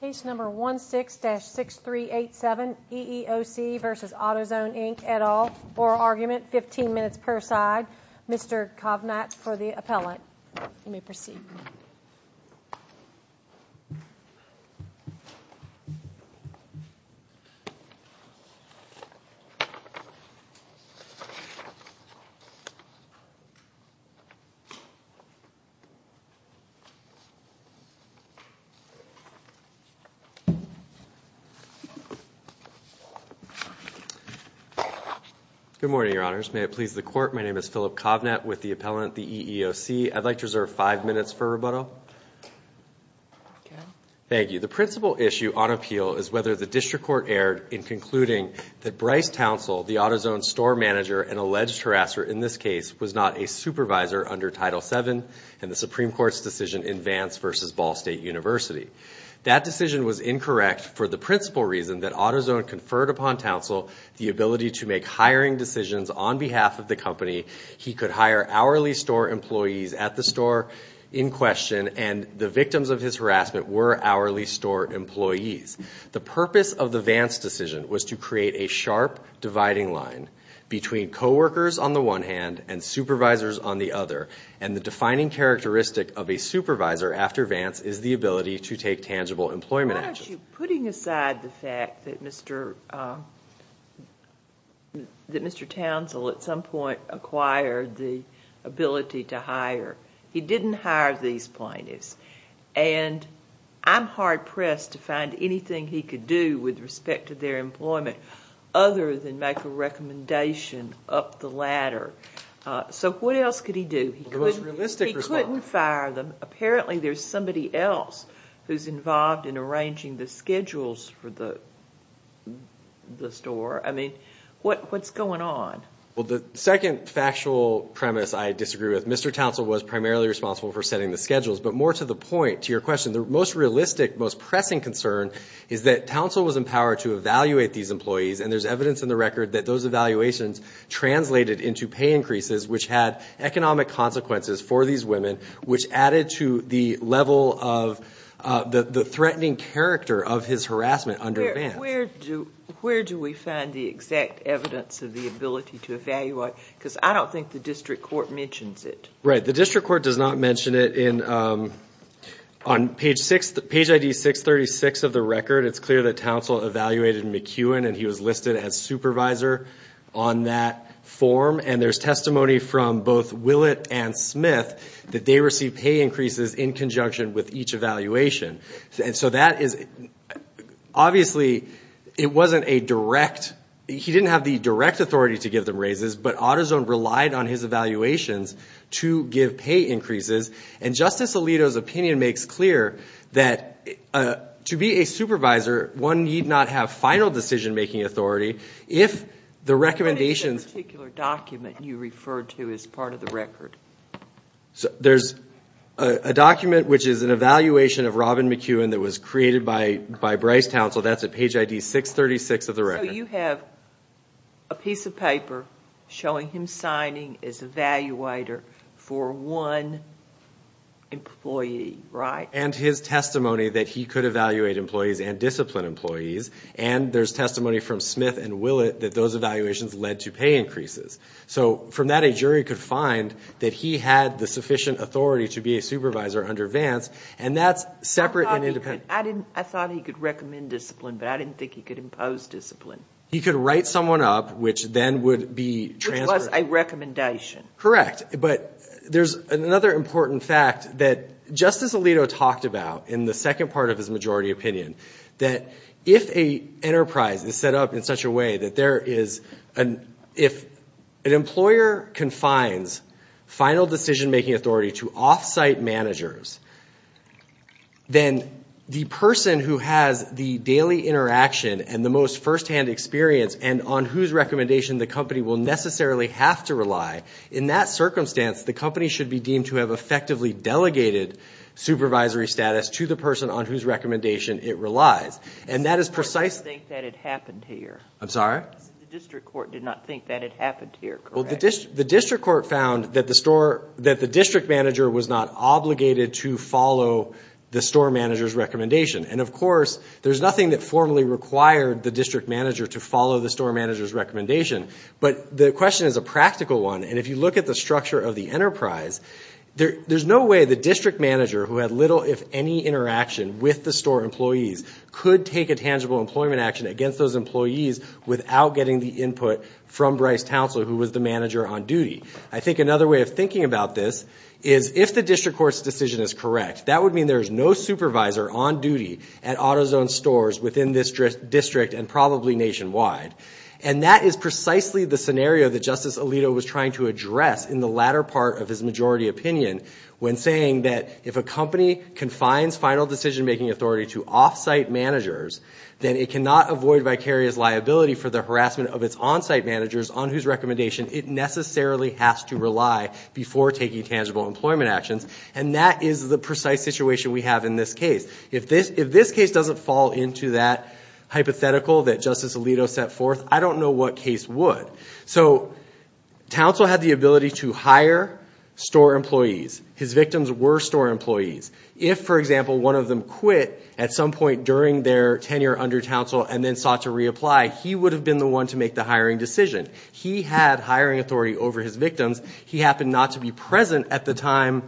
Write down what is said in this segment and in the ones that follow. Case number 16-6387, EEOC v. AutoZone Inc, et al. Oral argument, 15 minutes per side. Mr. Kovnats for the appellate. You may proceed. Good morning, Your Honors. May it please the Court, my name is Philip Kovnatt with the appellate at the EEOC. I'd like to reserve five minutes for rebuttal. Thank you. The principal issue on appeal is whether the District Court erred in concluding that Bryce Townsville, the AutoZone store manager and alleged harasser in this case, was not a supervisor under Title VII and the Supreme Court's decision in Vance v. Ball State University. That decision was incorrect for the principal reason that AutoZone conferred upon Townsville the ability to make hiring decisions on behalf of the company. He could hire hourly store employees at the store in question, and the victims of his harassment were hourly store employees. The purpose of the Vance decision was to create a sharp dividing line between coworkers on the one hand and supervisors on the other, and the defining characteristic of a supervisor after Vance is the ability to take tangible employment actions. And I'm hard-pressed to find anything he could do with respect to their employment other than make a recommendation up the ladder. So what else could he do? He couldn't fire them. Apparently there's somebody else who's involved in arranging the schedules for the store. I mean, what's going on? Well, the second factual premise I disagree with, Mr. Townsville was primarily responsible for setting the schedules. But more to the point, to your question, the most realistic, most pressing concern is that Townsville was empowered to evaluate these employees, and there's evidence in the record that those evaluations translated into pay increases, which had economic consequences for these women, which added to the level of the threatening character of his harassment under Vance. Where do we find the exact evidence of the ability to evaluate? Because I don't think the district court mentions it. Right. The district court does not mention it. On page ID 636 of the record, it's clear that Townsville evaluated McEwen, and he was listed as supervisor on that form. And there's testimony from both Willett and Smith that they received pay increases in conjunction with each evaluation. And so that is – obviously, it wasn't a direct – he didn't have the direct authority to give them raises, but AutoZone relied on his evaluations to give pay increases. And Justice Alito's opinion makes clear that to be a supervisor, one need not have final decision-making authority. If the recommendations – What is that particular document you referred to as part of the record? There's a document which is an evaluation of Robin McEwen that was created by Bryce Townsville. That's at page ID 636 of the record. So you have a piece of paper showing him signing as evaluator for one employee, right? And his testimony that he could evaluate employees and discipline employees, and there's testimony from Smith and Willett that those evaluations led to pay increases. So from that, a jury could find that he had the sufficient authority to be a supervisor under Vance, and that's separate and independent. I thought he could recommend discipline, but I didn't think he could impose discipline. He could write someone up, which then would be transferred. Which was a recommendation. Correct. But there's another important fact that Justice Alito talked about in the second part of his majority opinion, that if a enterprise is set up in such a way that there is – if an employer confines final decision-making authority to off-site managers, then the person who has the daily interaction and the most firsthand experience and on whose recommendation the company will necessarily have to rely, in that circumstance, the company should be deemed to have effectively delegated supervisory status to the person on whose recommendation it relies. And that is precisely – I don't think that it happened here. I'm sorry? The district court did not think that it happened here, correct? Well, the district court found that the store – that the district manager was not obligated to follow the store manager's recommendation. And of course, there's nothing that formally required the district manager to follow the store manager's recommendation. But the question is a practical one. And if you look at the structure of the enterprise, there's no way the district manager, who had little if any interaction with the store employees, could take a tangible employment action against those employees without getting the input from Bryce Townsend, who was the manager on duty. I think another way of thinking about this is, if the district court's decision is correct, that would mean there is no supervisor on duty at AutoZone stores within this district and probably nationwide. And that is precisely the scenario that Justice Alito was trying to address in the latter part of his majority opinion when saying that if a company confines final decision-making authority to off-site managers, then it cannot avoid vicarious liability for the harassment of its on-site managers on whose recommendation it necessarily has to rely before taking tangible employment actions. And that is the precise situation we have in this case. If this case doesn't fall into that hypothetical that Justice Alito set forth, I don't know what case would. So Townsend had the ability to hire store employees. His victims were store employees. If, for example, one of them quit at some point during their tenure under Townsend and then sought to reapply, he would have been the one to make the hiring decision. He had hiring authority over his victims. He happened not to be present at the time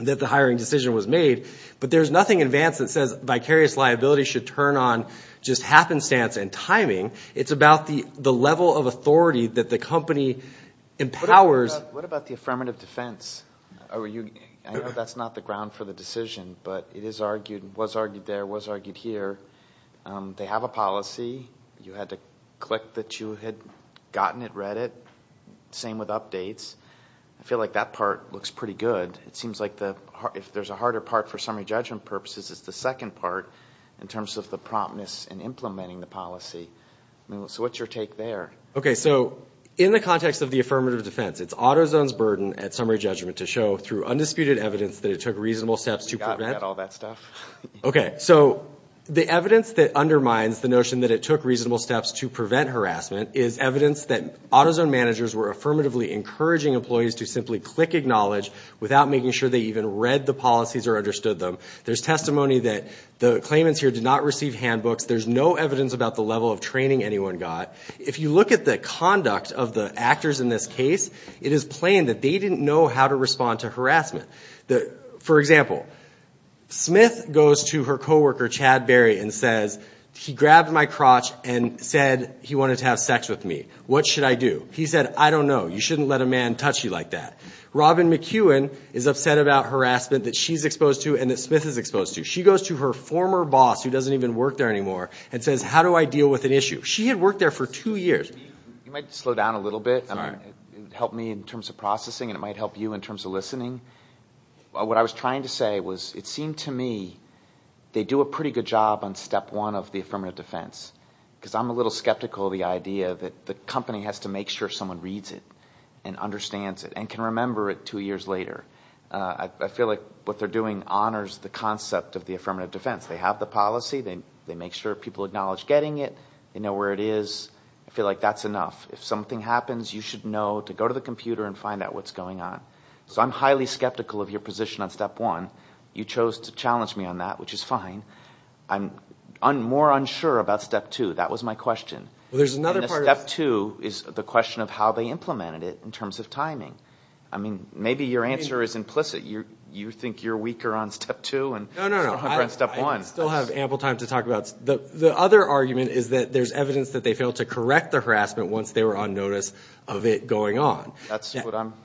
that the hiring decision was made. But there's nothing in Vance that says vicarious liability should turn on just happenstance and timing. It's about the level of authority that the company empowers. What about the affirmative defense? I know that's not the ground for the decision, but it was argued there, was argued here. They have a policy. You had to click that you had gotten it, read it. Same with updates. I feel like that part looks pretty good. It seems like if there's a harder part for summary judgment purposes, it's the second part in terms of the promptness in implementing the policy. So what's your take there? Okay, so in the context of the affirmative defense, it's AutoZone's burden at summary judgment to show through undisputed evidence that it took reasonable steps to prevent. We got rid of all that stuff. Okay, so the evidence that undermines the notion that it took reasonable steps to prevent harassment is evidence that AutoZone managers were affirmatively encouraging employees to simply click acknowledge without making sure they even read the policies or understood them. There's testimony that the claimants here did not receive handbooks. There's no evidence about the level of training anyone got. If you look at the conduct of the actors in this case, it is plain that they didn't know how to respond to harassment. For example, Smith goes to her coworker, Chad Berry, and says, he grabbed my crotch and said he wanted to have sex with me. What should I do? He said, I don't know. You shouldn't let a man touch you like that. Robin McEwen is upset about harassment that she's exposed to and that Smith is exposed to. She goes to her former boss, who doesn't even work there anymore, and says, how do I deal with an issue? She had worked there for two years. You might slow down a little bit. It would help me in terms of processing, and it might help you in terms of listening. What I was trying to say was it seemed to me they do a pretty good job on step one of the affirmative defense, because I'm a little skeptical of the idea that the company has to make sure someone reads it and understands it and can remember it two years later. I feel like what they're doing honors the concept of the affirmative defense. They have the policy. They make sure people acknowledge getting it. They know where it is. I feel like that's enough. If something happens, you should know to go to the computer and find out what's going on. So I'm highly skeptical of your position on step one. You chose to challenge me on that, which is fine. I'm more unsure about step two. That was my question. Step two is the question of how they implemented it in terms of timing. Maybe your answer is implicit. You think you're weaker on step two. No, no, no. I still have ample time to talk about it. The other argument is that there's evidence that they failed to correct the harassment once they were on notice of it going on.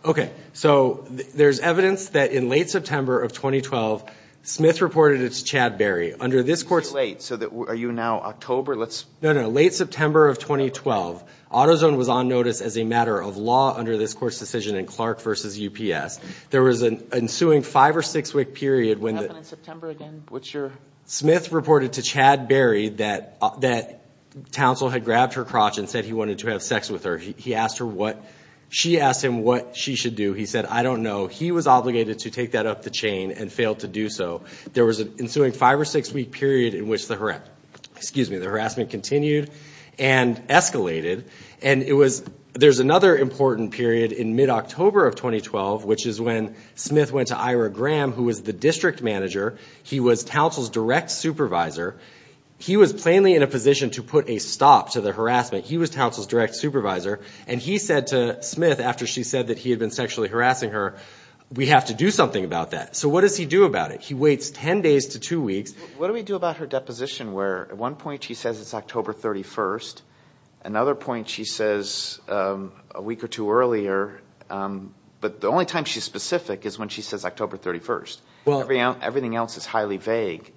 Okay. So there's evidence that in late September of 2012, Smith reported it to Chad Berry. It's too late. Are you now October? No, no. Late September of 2012, AutoZone was on notice as a matter of law under this court's decision in Clark v. UPS. There was an ensuing five- or six-week period. What happened in September again? Smith reported to Chad Berry that Townsville had grabbed her crotch and said he wanted to have sex with her. She asked him what she should do. He said, I don't know. He was obligated to take that up the chain and failed to do so. There was an ensuing five- or six-week period in which the harassment continued and escalated. And there's another important period in mid-October of 2012, which is when Smith went to Ira Graham, who was the district manager. He was Townsville's direct supervisor. He was plainly in a position to put a stop to the harassment. He was Townsville's direct supervisor. And he said to Smith, after she said that he had been sexually harassing her, we have to do something about that. So what does he do about it? He waits 10 days to two weeks. What do we do about her deposition where at one point she says it's October 31st? Another point she says a week or two earlier. But the only time she's specific is when she says October 31st. Everything else is highly vague.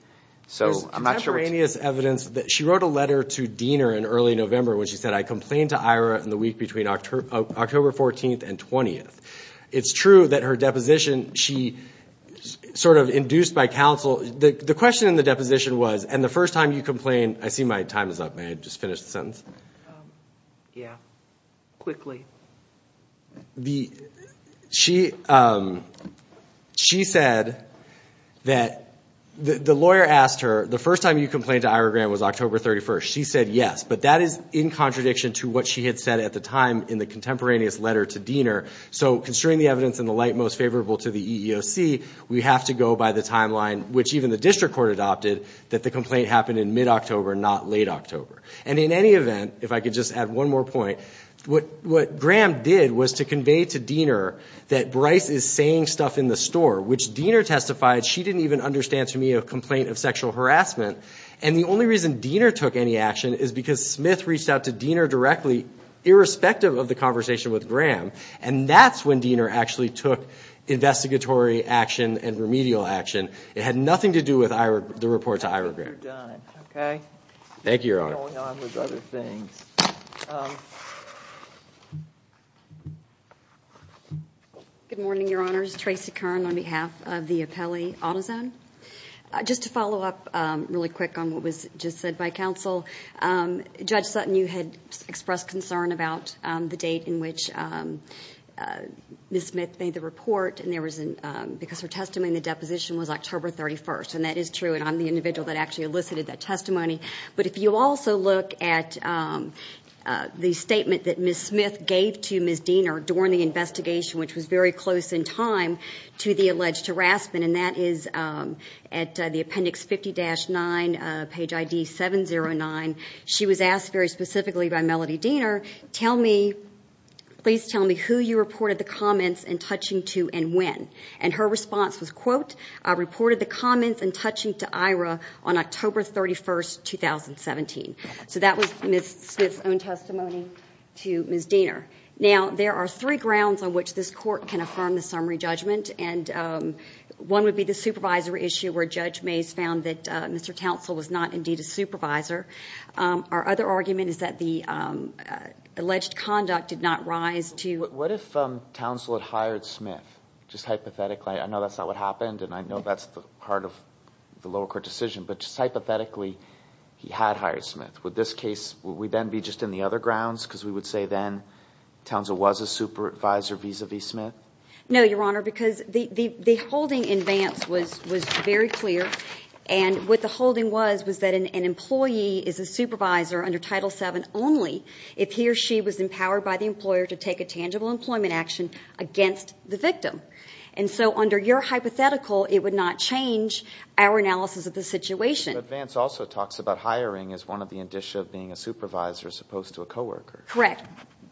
There's temporaneous evidence that she wrote a letter to Diener in early November when she said, I complained to Ira in the week between October 14th and 20th. It's true that her deposition she sort of induced by counsel. The question in the deposition was, and the first time you complained, I see my time is up. May I just finish the sentence? Yeah, quickly. She said that the lawyer asked her, the first time you complained to Ira Graham was October 31st. She said yes. But that is in contradiction to what she had said at the time in the contemporaneous letter to Diener. So considering the evidence in the light most favorable to the EEOC, we have to go by the timeline, which even the district court adopted, that the complaint happened in mid-October, not late October. And in any event, if I could just add one more point, what Graham did was to convey to Diener that Bryce is saying stuff in the store, which Diener testified she didn't even understand to me a complaint of sexual harassment. And the only reason Diener took any action is because Smith reached out to Diener directly, irrespective of the conversation with Graham. And that's when Diener actually took investigatory action and remedial action. It had nothing to do with the report to Ira Graham. Thank you, Your Honor. Good morning, Your Honors. Tracy Kern on behalf of the Appellee AutoZone. Just to follow up really quick on what was just said by counsel, Judge Sutton, you had expressed concern about the date in which Ms. Smith made the report, because her testimony in the deposition was October 31st, and that is true, and I'm the individual that actually elicited that testimony. But if you also look at the statement that Ms. Smith gave to Ms. Diener during the investigation, which was very close in time to the alleged harassment, and that is at the appendix 50-9, page ID 709. She was asked very specifically by Melody Diener, please tell me who you reported the comments in touching to and when. And her response was, quote, I reported the comments in touching to Ira on October 31st, 2017. So that was Ms. Smith's own testimony to Ms. Diener. Now, there are three grounds on which this court can affirm the summary judgment, and one would be the supervisor issue where Judge Mayes found that Mr. Townsall was not indeed a supervisor. Our other argument is that the alleged conduct did not rise to – that Townsall had hired Smith, just hypothetically. I know that's not what happened, and I know that's part of the lower court decision, but just hypothetically, he had hired Smith. Would this case – would we then be just in the other grounds, because we would say then Townsall was a supervisor vis-a-vis Smith? No, Your Honor, because the holding in Vance was very clear, and what the holding was was that an employee is a supervisor under Title VII only if he or she was empowered by the employer to take a tangible employment action against the victim. And so under your hypothetical, it would not change our analysis of the situation. But Vance also talks about hiring as one of the indicia of being a supervisor as opposed to a coworker. Correct,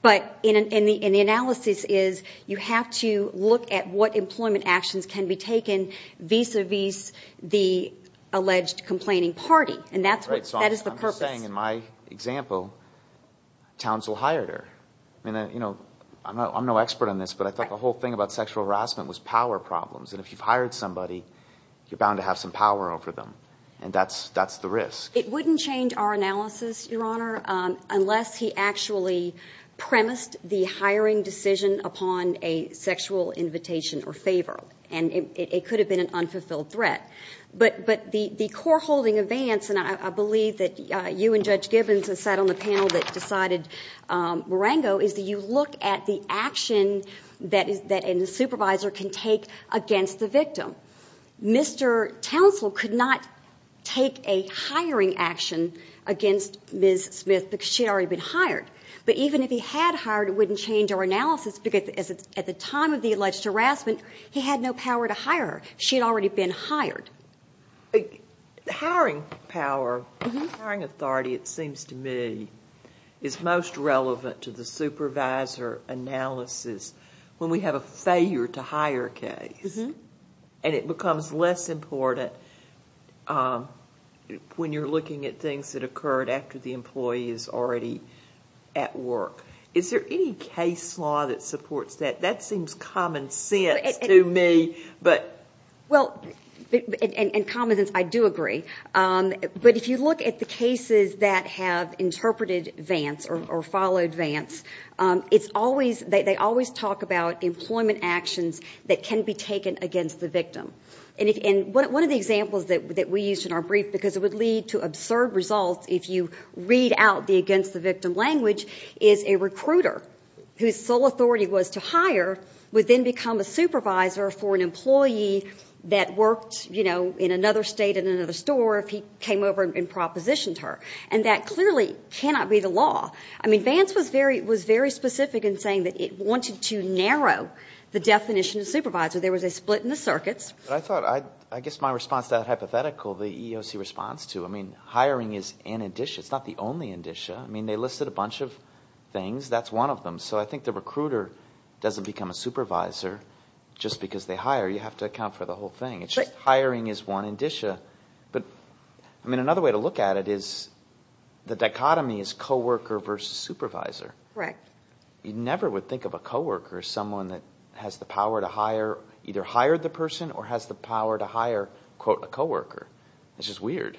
but in the analysis is you have to look at what employment actions can be taken vis-a-vis the alleged complaining party, and that is the purpose. You're saying, in my example, Townsall hired her. I mean, you know, I'm no expert on this, but I thought the whole thing about sexual harassment was power problems, and if you've hired somebody, you're bound to have some power over them, and that's the risk. It wouldn't change our analysis, Your Honor, unless he actually premised the hiring decision upon a sexual invitation or favor, and it could have been an unfulfilled threat. But the core holding of Vance, and I believe that you and Judge Gibbons have sat on the panel that decided Marengo, is that you look at the action that a supervisor can take against the victim. Mr. Townsall could not take a hiring action against Ms. Smith because she had already been hired. But even if he had hired her, it wouldn't change our analysis because at the time of the alleged harassment, he had no power to hire her. She had already been hired. Hiring power, hiring authority, it seems to me, is most relevant to the supervisor analysis when we have a failure to hire case, and it becomes less important when you're looking at things that occurred after the employee is already at work. Is there any case law that supports that? That seems common sense to me. Well, in common sense, I do agree. But if you look at the cases that have interpreted Vance or followed Vance, they always talk about employment actions that can be taken against the victim. And one of the examples that we used in our brief, because it would lead to absurd results if you read out the against the victim language, is a recruiter whose sole authority was to hire would then become a supervisor for an employee that worked, you know, in another state in another store if he came over and propositioned her. And that clearly cannot be the law. I mean, Vance was very specific in saying that it wanted to narrow the definition of supervisor. There was a split in the circuits. I guess my response to that hypothetical, the EEOC response to, I mean, hiring is an indicia. It's not the only indicia. I mean, they listed a bunch of things. That's one of them. So I think the recruiter doesn't become a supervisor just because they hire. You have to account for the whole thing. It's just hiring is one indicia. But, I mean, another way to look at it is the dichotomy is coworker versus supervisor. Correct. You never would think of a coworker as someone that has the power to either hire the person or has the power to hire, quote, a coworker. It's just weird.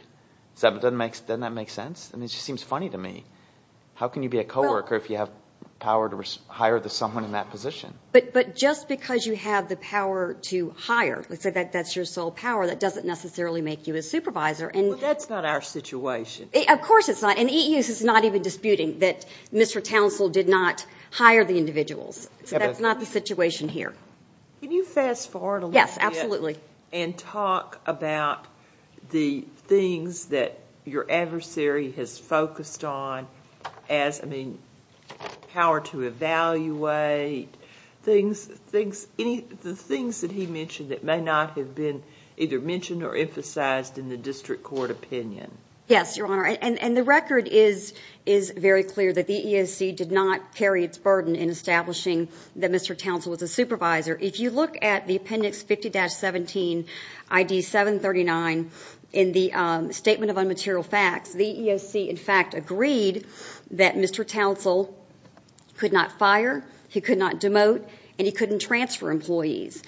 Doesn't that make sense? I mean, it just seems funny to me. How can you be a coworker if you have power to hire someone in that position? But just because you have the power to hire, let's say that's your sole power, that doesn't necessarily make you a supervisor. Well, that's not our situation. Of course it's not. And EEOC is not even disputing that Mr. Townsville did not hire the individuals. So that's not the situation here. Can you fast forward a little bit? Yes, absolutely. And talk about the things that your adversary has focused on as, I mean, power to evaluate, the things that he mentioned that may not have been either mentioned or emphasized in the district court opinion. Yes, Your Honor. And the record is very clear that the EEOC did not carry its burden in establishing that Mr. Townsville was a supervisor. If you look at the Appendix 50-17, ID 739, in the Statement of Unmaterial Facts, the EEOC, in fact, agreed that Mr. Townsville could not fire, he could not demote, and he couldn't transfer employees.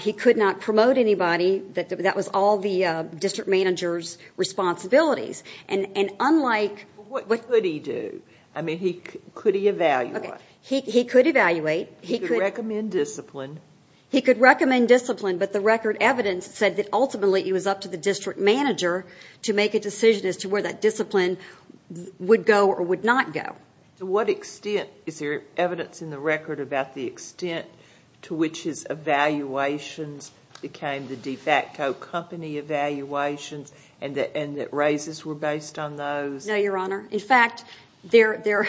He could not promote anybody. That was all the district manager's responsibilities. And unlike – What could he do? I mean, could he evaluate? He could evaluate. He could recommend discipline. He could recommend discipline. But the record evidence said that ultimately it was up to the district manager to make a decision as to where that discipline would go or would not go. To what extent is there evidence in the record about the extent to which his evaluations became the de facto company evaluations and that raises were based on those? No, Your Honor. In fact, the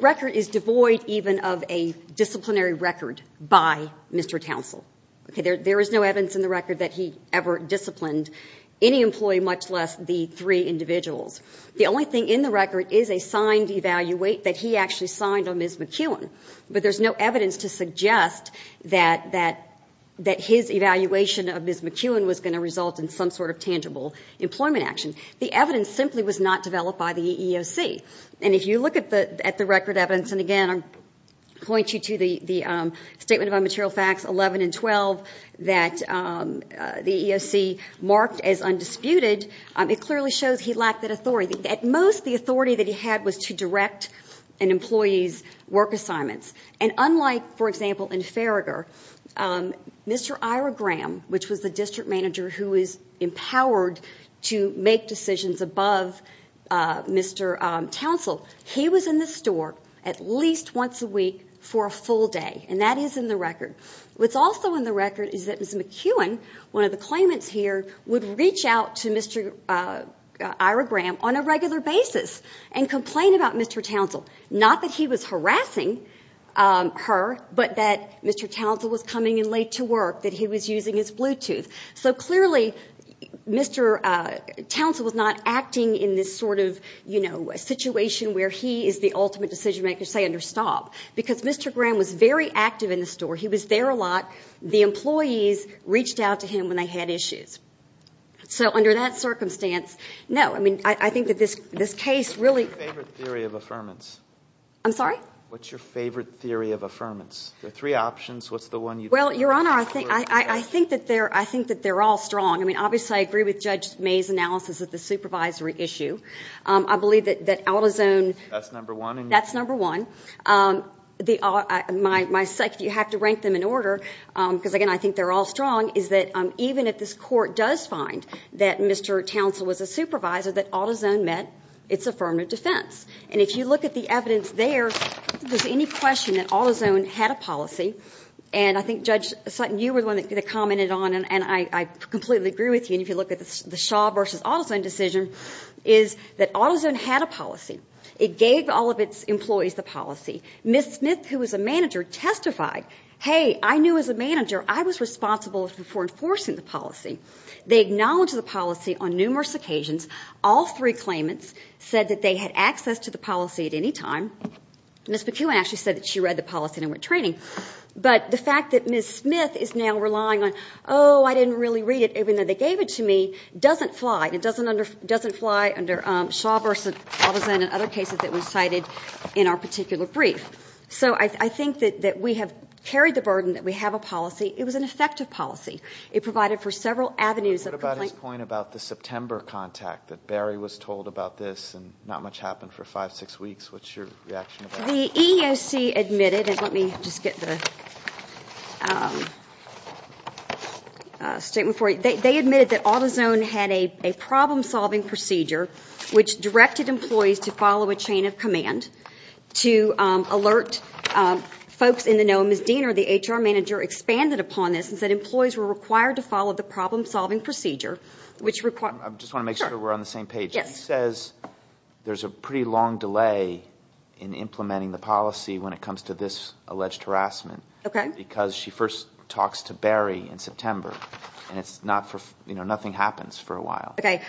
record is devoid even of a disciplinary record by Mr. Townsville. There is no evidence in the record that he ever disciplined any employee, much less the three individuals. The only thing in the record is a signed evaluate that he actually signed on Ms. McEwen. But there's no evidence to suggest that his evaluation of Ms. McEwen was going to result in some sort of tangible employment action. The evidence simply was not developed by the EEOC. And if you look at the record evidence, and again I point you to the Statement of Unmaterial Facts 11 and 12 that the EEOC marked as undisputed, it clearly shows he lacked that authority. At most, the authority that he had was to direct an employee's work assignments. And unlike, for example, in Farragher, Mr. Ira Graham, which was the district manager who was empowered to make decisions above Mr. Townsville, he was in the store at least once a week for a full day, and that is in the record. What's also in the record is that Ms. McEwen, one of the claimants here, would reach out to Mr. Ira Graham on a regular basis and complain about Mr. Townsville. Not that he was harassing her, but that Mr. Townsville was coming in late to work, that he was using his Bluetooth. So clearly, Mr. Townsville was not acting in this sort of situation where he is the ultimate decision-maker, say, under stop. Because Mr. Graham was very active in the store. He was there a lot. The employees reached out to him when they had issues. So under that circumstance, no. I mean, I think that this case really – What's your favorite theory of affirmance? I'm sorry? What's your favorite theory of affirmance? There are three options. What's the one you – Well, Your Honor, I think that they're all strong. I mean, obviously, I agree with Judge May's analysis of the supervisory issue. I believe that out-of-zone – That's number one? That's number one. My second, you have to rank them in order, because, again, I think they're all strong, is that even if this Court does find that Mr. Townsville was a supervisor, that out-of-zone met its affirmative defense. And if you look at the evidence there, if there's any question that out-of-zone had a policy, and I think, Judge Sutton, you were the one that commented on it, and I completely agree with you, and if you look at the Shaw v. out-of-zone decision, is that out-of-zone had a policy. It gave all of its employees the policy. Ms. Smith, who was a manager, testified, hey, I knew as a manager I was responsible for enforcing the policy. They acknowledged the policy on numerous occasions. All three claimants said that they had access to the policy at any time. Ms. McEwen actually said that she read the policy and went training. But the fact that Ms. Smith is now relying on, oh, I didn't really read it, even though they gave it to me, doesn't fly, and it doesn't fly under Shaw v. out-of-zone and other cases that we cited in our particular brief. So I think that we have carried the burden that we have a policy. It was an effective policy. It provided for several avenues of complaint. What about his point about the September contact, that Barry was told about this and not much happened for five, six weeks? What's your reaction to that? The EEOC admitted, and let me just get the statement for you. They admitted that out-of-zone had a problem-solving procedure which directed employees to follow a chain of command to alert folks in the know. Ms. Diener, the HR manager, expanded upon this and said employees were required to follow the problem-solving procedure. I just want to make sure we're on the same page. She says there's a pretty long delay in implementing the policy when it comes to this alleged harassment because she first talks to Barry in September, and nothing happens for a while. Okay.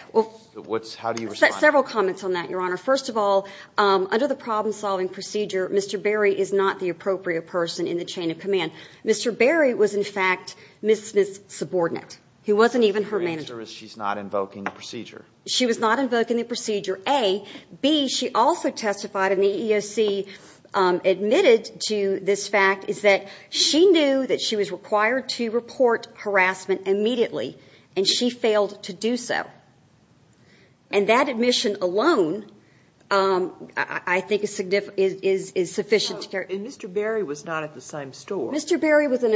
How do you respond? Several comments on that, Your Honor. First of all, under the problem-solving procedure, Mr. Barry is not the appropriate person in the chain of command. Mr. Barry was, in fact, Ms. Smith's subordinate. He wasn't even her manager. Her answer is she's not invoking the procedure. She was not invoking the procedure, A. B, she also testified, and the EEOC admitted to this fact, is that she knew that she was required to report harassment immediately, and she failed to do so. And that admission alone, I think, is sufficient. And Mr. Barry was not at the same store. Mr. Barry wasn't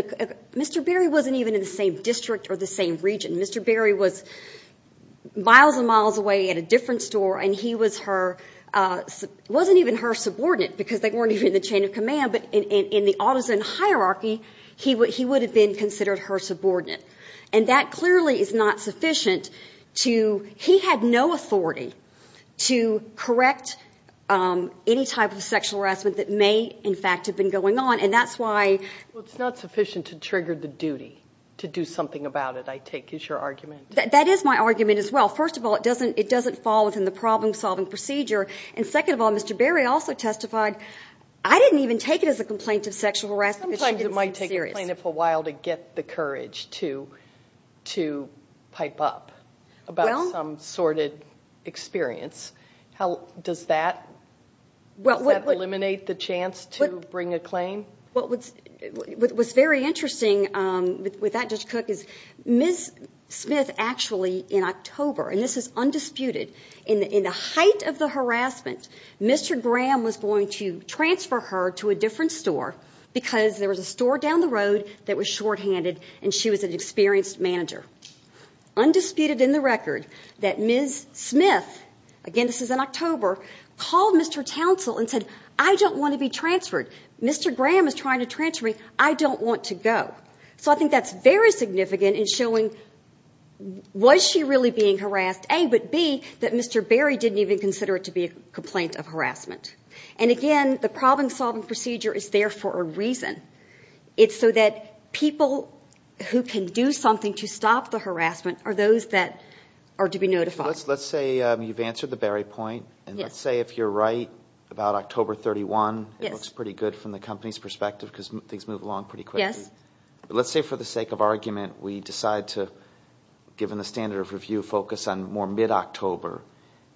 even in the same district or the same region. Mr. Barry was miles and miles away at a different store, and he wasn't even her subordinate because they weren't even in the chain of command, but in the autism hierarchy, he would have been considered her subordinate. And that clearly is not sufficient to he had no authority to correct any type of sexual harassment that may, in fact, have been going on, and that's why. Well, it's not sufficient to trigger the duty to do something about it, I take, is your argument. That is my argument as well. First of all, it doesn't fall within the problem-solving procedure. And second of all, Mr. Barry also testified, I didn't even take it as a complaint of sexual harassment because she didn't seem serious. Sometimes it might take a plaintiff a while to get the courage to pipe up about some sordid experience. Does that eliminate the chance to bring a claim? What's very interesting with that, Judge Cook, is Ms. Smith actually in October, and this is undisputed, in the height of the harassment, Mr. Graham was going to transfer her to a different store because there was a store down the road that was shorthanded and she was an experienced manager. Undisputed in the record that Ms. Smith, again, this is in October, called Mr. Townsell and said, I don't want to be transferred. Mr. Graham is trying to transfer me. I don't want to go. So I think that's very significant in showing, was she really being harassed, A, but B, that Mr. Barry didn't even consider it to be a complaint of harassment. And again, the problem-solving procedure is there for a reason. It's so that people who can do something to stop the harassment are those that are to be notified. Let's say you've answered the Barry point, and let's say if you're right about October 31, it looks pretty good from the company's perspective because things move along pretty quickly. Let's say for the sake of argument, we decide to, given the standard of review, focus on more mid-October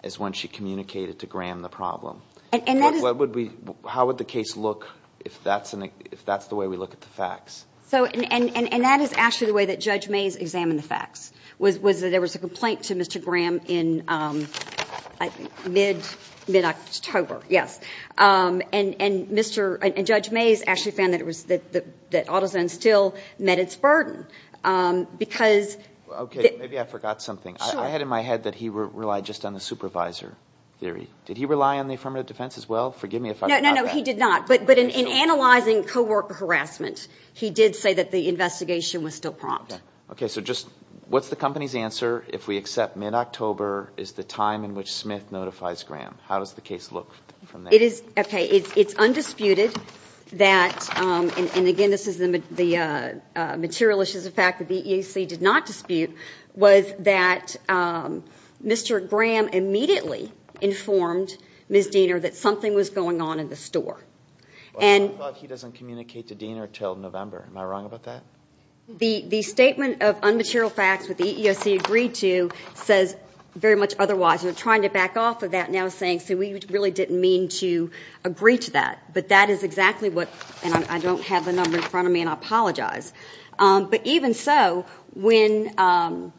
is when she communicated to Graham the problem. How would the case look if that's the way we look at the facts? And that is actually the way that Judge Mays examined the facts, was that there was a complaint to Mr. Graham in mid-October, yes. And Judge Mays actually found that AutoZone still met its burden because the- Okay, maybe I forgot something. I had in my head that he relied just on the supervisor theory. Did he rely on the affirmative defense as well? Forgive me if I forgot that. No, no, no, he did not. But in analyzing co-worker harassment, he did say that the investigation was still prompt. Okay, so just what's the company's answer if we accept mid-October is the time in which Smith notifies Graham? How does the case look from that? Okay, it's undisputed that- and, again, this is the material issues of fact that the EEOC did not dispute- was that Mr. Graham immediately informed Ms. Diener that something was going on in the store. But I thought he doesn't communicate to Diener until November. Am I wrong about that? The statement of unmaterial facts that the EEOC agreed to says very much otherwise. We're trying to back off of that now saying, see, we really didn't mean to agree to that. But that is exactly what-and I don't have the number in front of me, and I apologize. But even so, when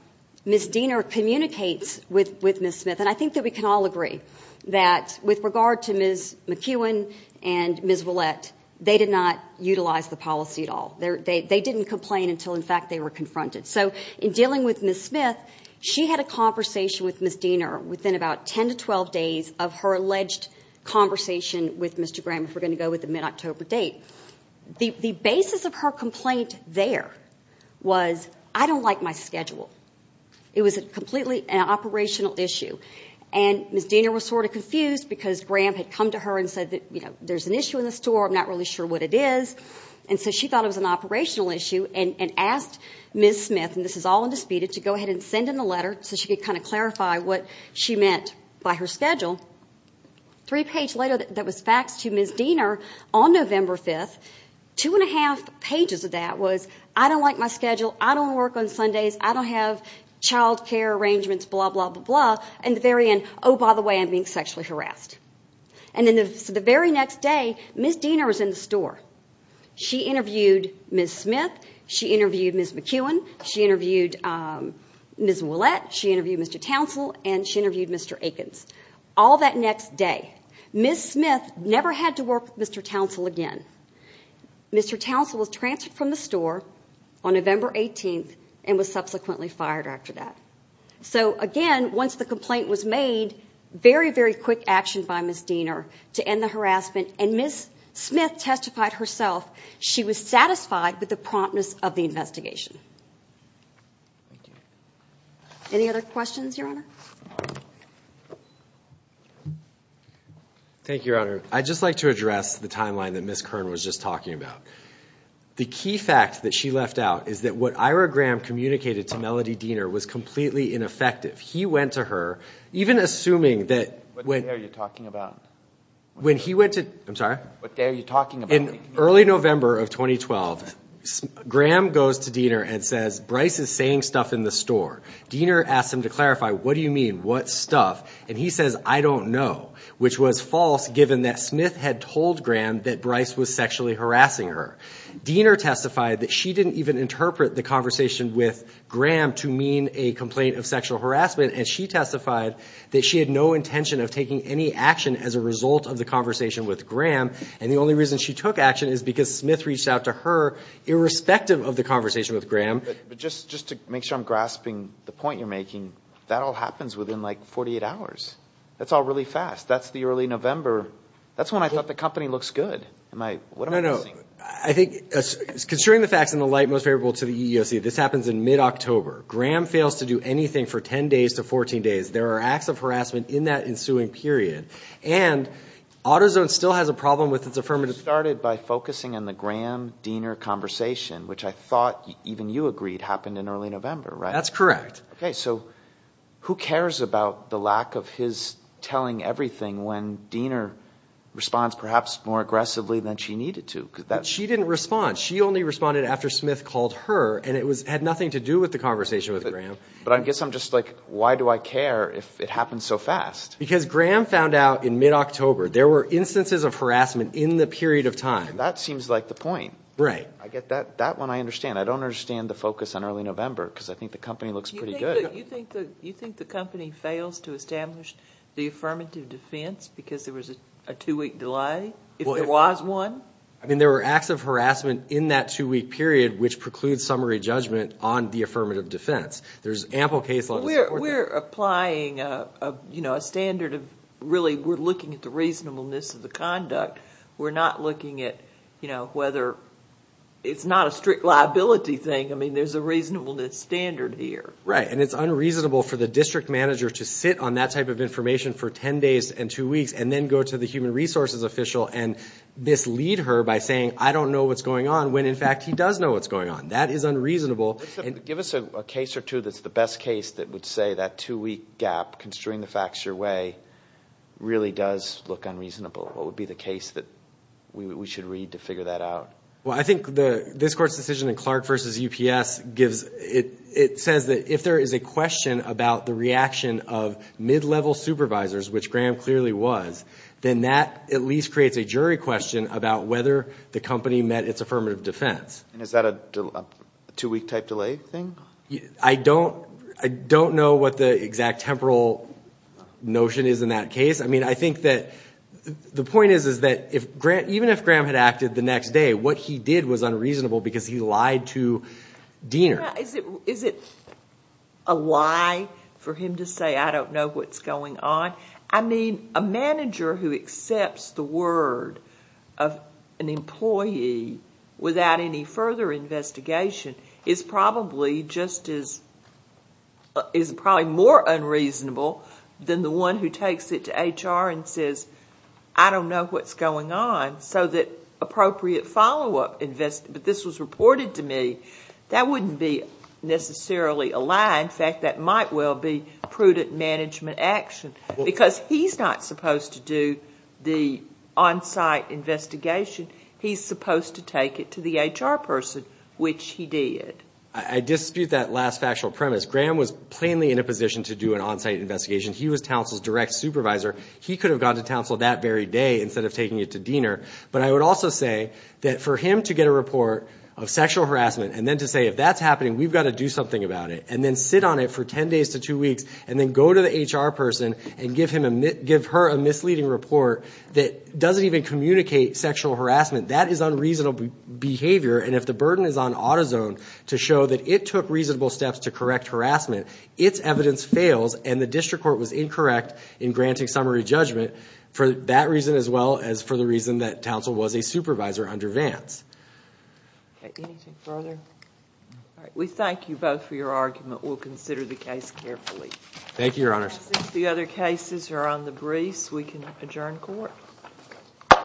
Ms. Diener communicates with Ms. Smith- and I think that we can all agree that with regard to Ms. McEwen and Ms. Ouellette, they did not utilize the policy at all. They didn't complain until, in fact, they were confronted. So in dealing with Ms. Smith, she had a conversation with Ms. Diener within about 10 to 12 days of her alleged conversation with Mr. Graham, if we're going to go with the mid-October date. The basis of her complaint there was, I don't like my schedule. It was completely an operational issue. And Ms. Diener was sort of confused because Graham had come to her and said, you know, there's an issue in the store, I'm not really sure what it is. And so she thought it was an operational issue and asked Ms. Smith, and this is all undisputed, to go ahead and send in a letter so she could kind of clarify what she meant by her schedule. Three pages later, there was faxed to Ms. Diener on November 5th. Two and a half pages of that was, I don't like my schedule, I don't work on Sundays, I don't have child care arrangements, blah, blah, blah, blah. And at the very end, oh, by the way, I'm being sexually harassed. And then the very next day, Ms. Diener was in the store. She interviewed Ms. Smith, she interviewed Ms. McEwen, she interviewed Ms. Ouellette, she interviewed Mr. Townsell, and she interviewed Mr. Akins. All that next day. Ms. Smith never had to work with Mr. Townsell again. Mr. Townsell was transferred from the store on November 18th and was subsequently fired after that. So, again, once the complaint was made, very, very quick action by Ms. Diener to end the harassment, and Ms. Smith testified herself she was satisfied with the promptness of the investigation. Any other questions, Your Honor? Thank you, Your Honor. I'd just like to address the timeline that Ms. Kern was just talking about. The key fact that she left out is that what Ira Graham communicated to Melody Diener was completely ineffective. He went to her, even assuming that when he went to What are you talking about? In early November of 2012, Graham goes to Diener and says, Bryce is saying stuff in the store. Diener asks him to clarify, what do you mean, what stuff? And he says, I don't know, which was false given that Smith had told Graham that Bryce was sexually harassing her. Diener testified that she didn't even interpret the conversation with Graham to mean a complaint of sexual harassment, and she testified that she had no intention of taking any action as a result of the conversation with Graham, and the only reason she took action is because Smith reached out to her irrespective of the conversation with Graham. But just to make sure I'm grasping the point you're making, that all happens within, like, 48 hours. That's all really fast. That's the early November. That's when I thought the company looks good. What am I missing? No, no. I think, considering the facts in the light most favorable to the EEOC, this happens in mid-October. Graham fails to do anything for 10 days to 14 days. There are acts of harassment in that ensuing period. And AutoZone still has a problem with its affirmative. It started by focusing on the Graham-Diener conversation, which I thought even you agreed happened in early November, right? That's correct. Okay. So who cares about the lack of his telling everything when Diener responds perhaps more aggressively than she needed to? But she didn't respond. She only responded after Smith called her, and it had nothing to do with the conversation with Graham. But I guess I'm just like, why do I care if it happens so fast? Because Graham found out in mid-October there were instances of harassment in the period of time. That seems like the point. Right. I get that. That one I understand. I don't understand the focus on early November because I think the company looks pretty good. You think the company fails to establish the affirmative defense because there was a two-week delay if there was one? I mean, there were acts of harassment in that two-week period which precludes summary judgment on the affirmative defense. There's ample case law. We're applying a standard of really, we're looking at the reasonableness of the conduct. We're not looking at whether it's not a strict liability thing. I mean, there's a reasonableness standard here. Right, and it's unreasonable for the district manager to sit on that type of information for ten days and two weeks and then go to the human resources official and mislead her by saying, I don't know what's going on, when in fact he does know what's going on. That is unreasonable. Give us a case or two that's the best case that would say that two-week gap, constrain the facts your way, really does look unreasonable. What would be the case that we should read to figure that out? Well, I think this Court's decision in Clark v. UPS gives, it says that if there is a question about the reaction of mid-level supervisors, which Graham clearly was, then that at least creates a jury question about whether the company met its affirmative defense. And is that a two-week type delay thing? I don't know what the exact temporal notion is in that case. I mean, I think that the point is that even if Graham had acted the next day, what he did was unreasonable because he lied to Diener. Is it a lie for him to say, I don't know what's going on? I mean, a manager who accepts the word of an employee without any further investigation is probably more unreasonable than the one who takes it to HR and says, I don't know what's going on, so that appropriate follow-up investigation. But this was reported to me. That wouldn't be necessarily a lie. In fact, that might well be prudent management action because he's not supposed to do the on-site investigation. He's supposed to take it to the HR person, which he did. I dispute that last factual premise. Graham was plainly in a position to do an on-site investigation. He was counsel's direct supervisor. He could have gone to counsel that very day instead of taking it to Diener. But I would also say that for him to get a report of sexual harassment and then to say, if that's happening, we've got to do something about it, and then sit on it for ten days to two weeks, and then go to the HR person and give her a misleading report that doesn't even communicate sexual harassment, that is unreasonable behavior. And if the burden is on AutoZone to show that it took reasonable steps to correct harassment, its evidence fails, and the district court was incorrect in granting summary judgment for that reason as well as for the reason that counsel was a supervisor under Vance. Anything further? We thank you both for your argument. We'll consider the case carefully. Thank you, Your Honor. The other cases are on the briefs. We can adjourn court.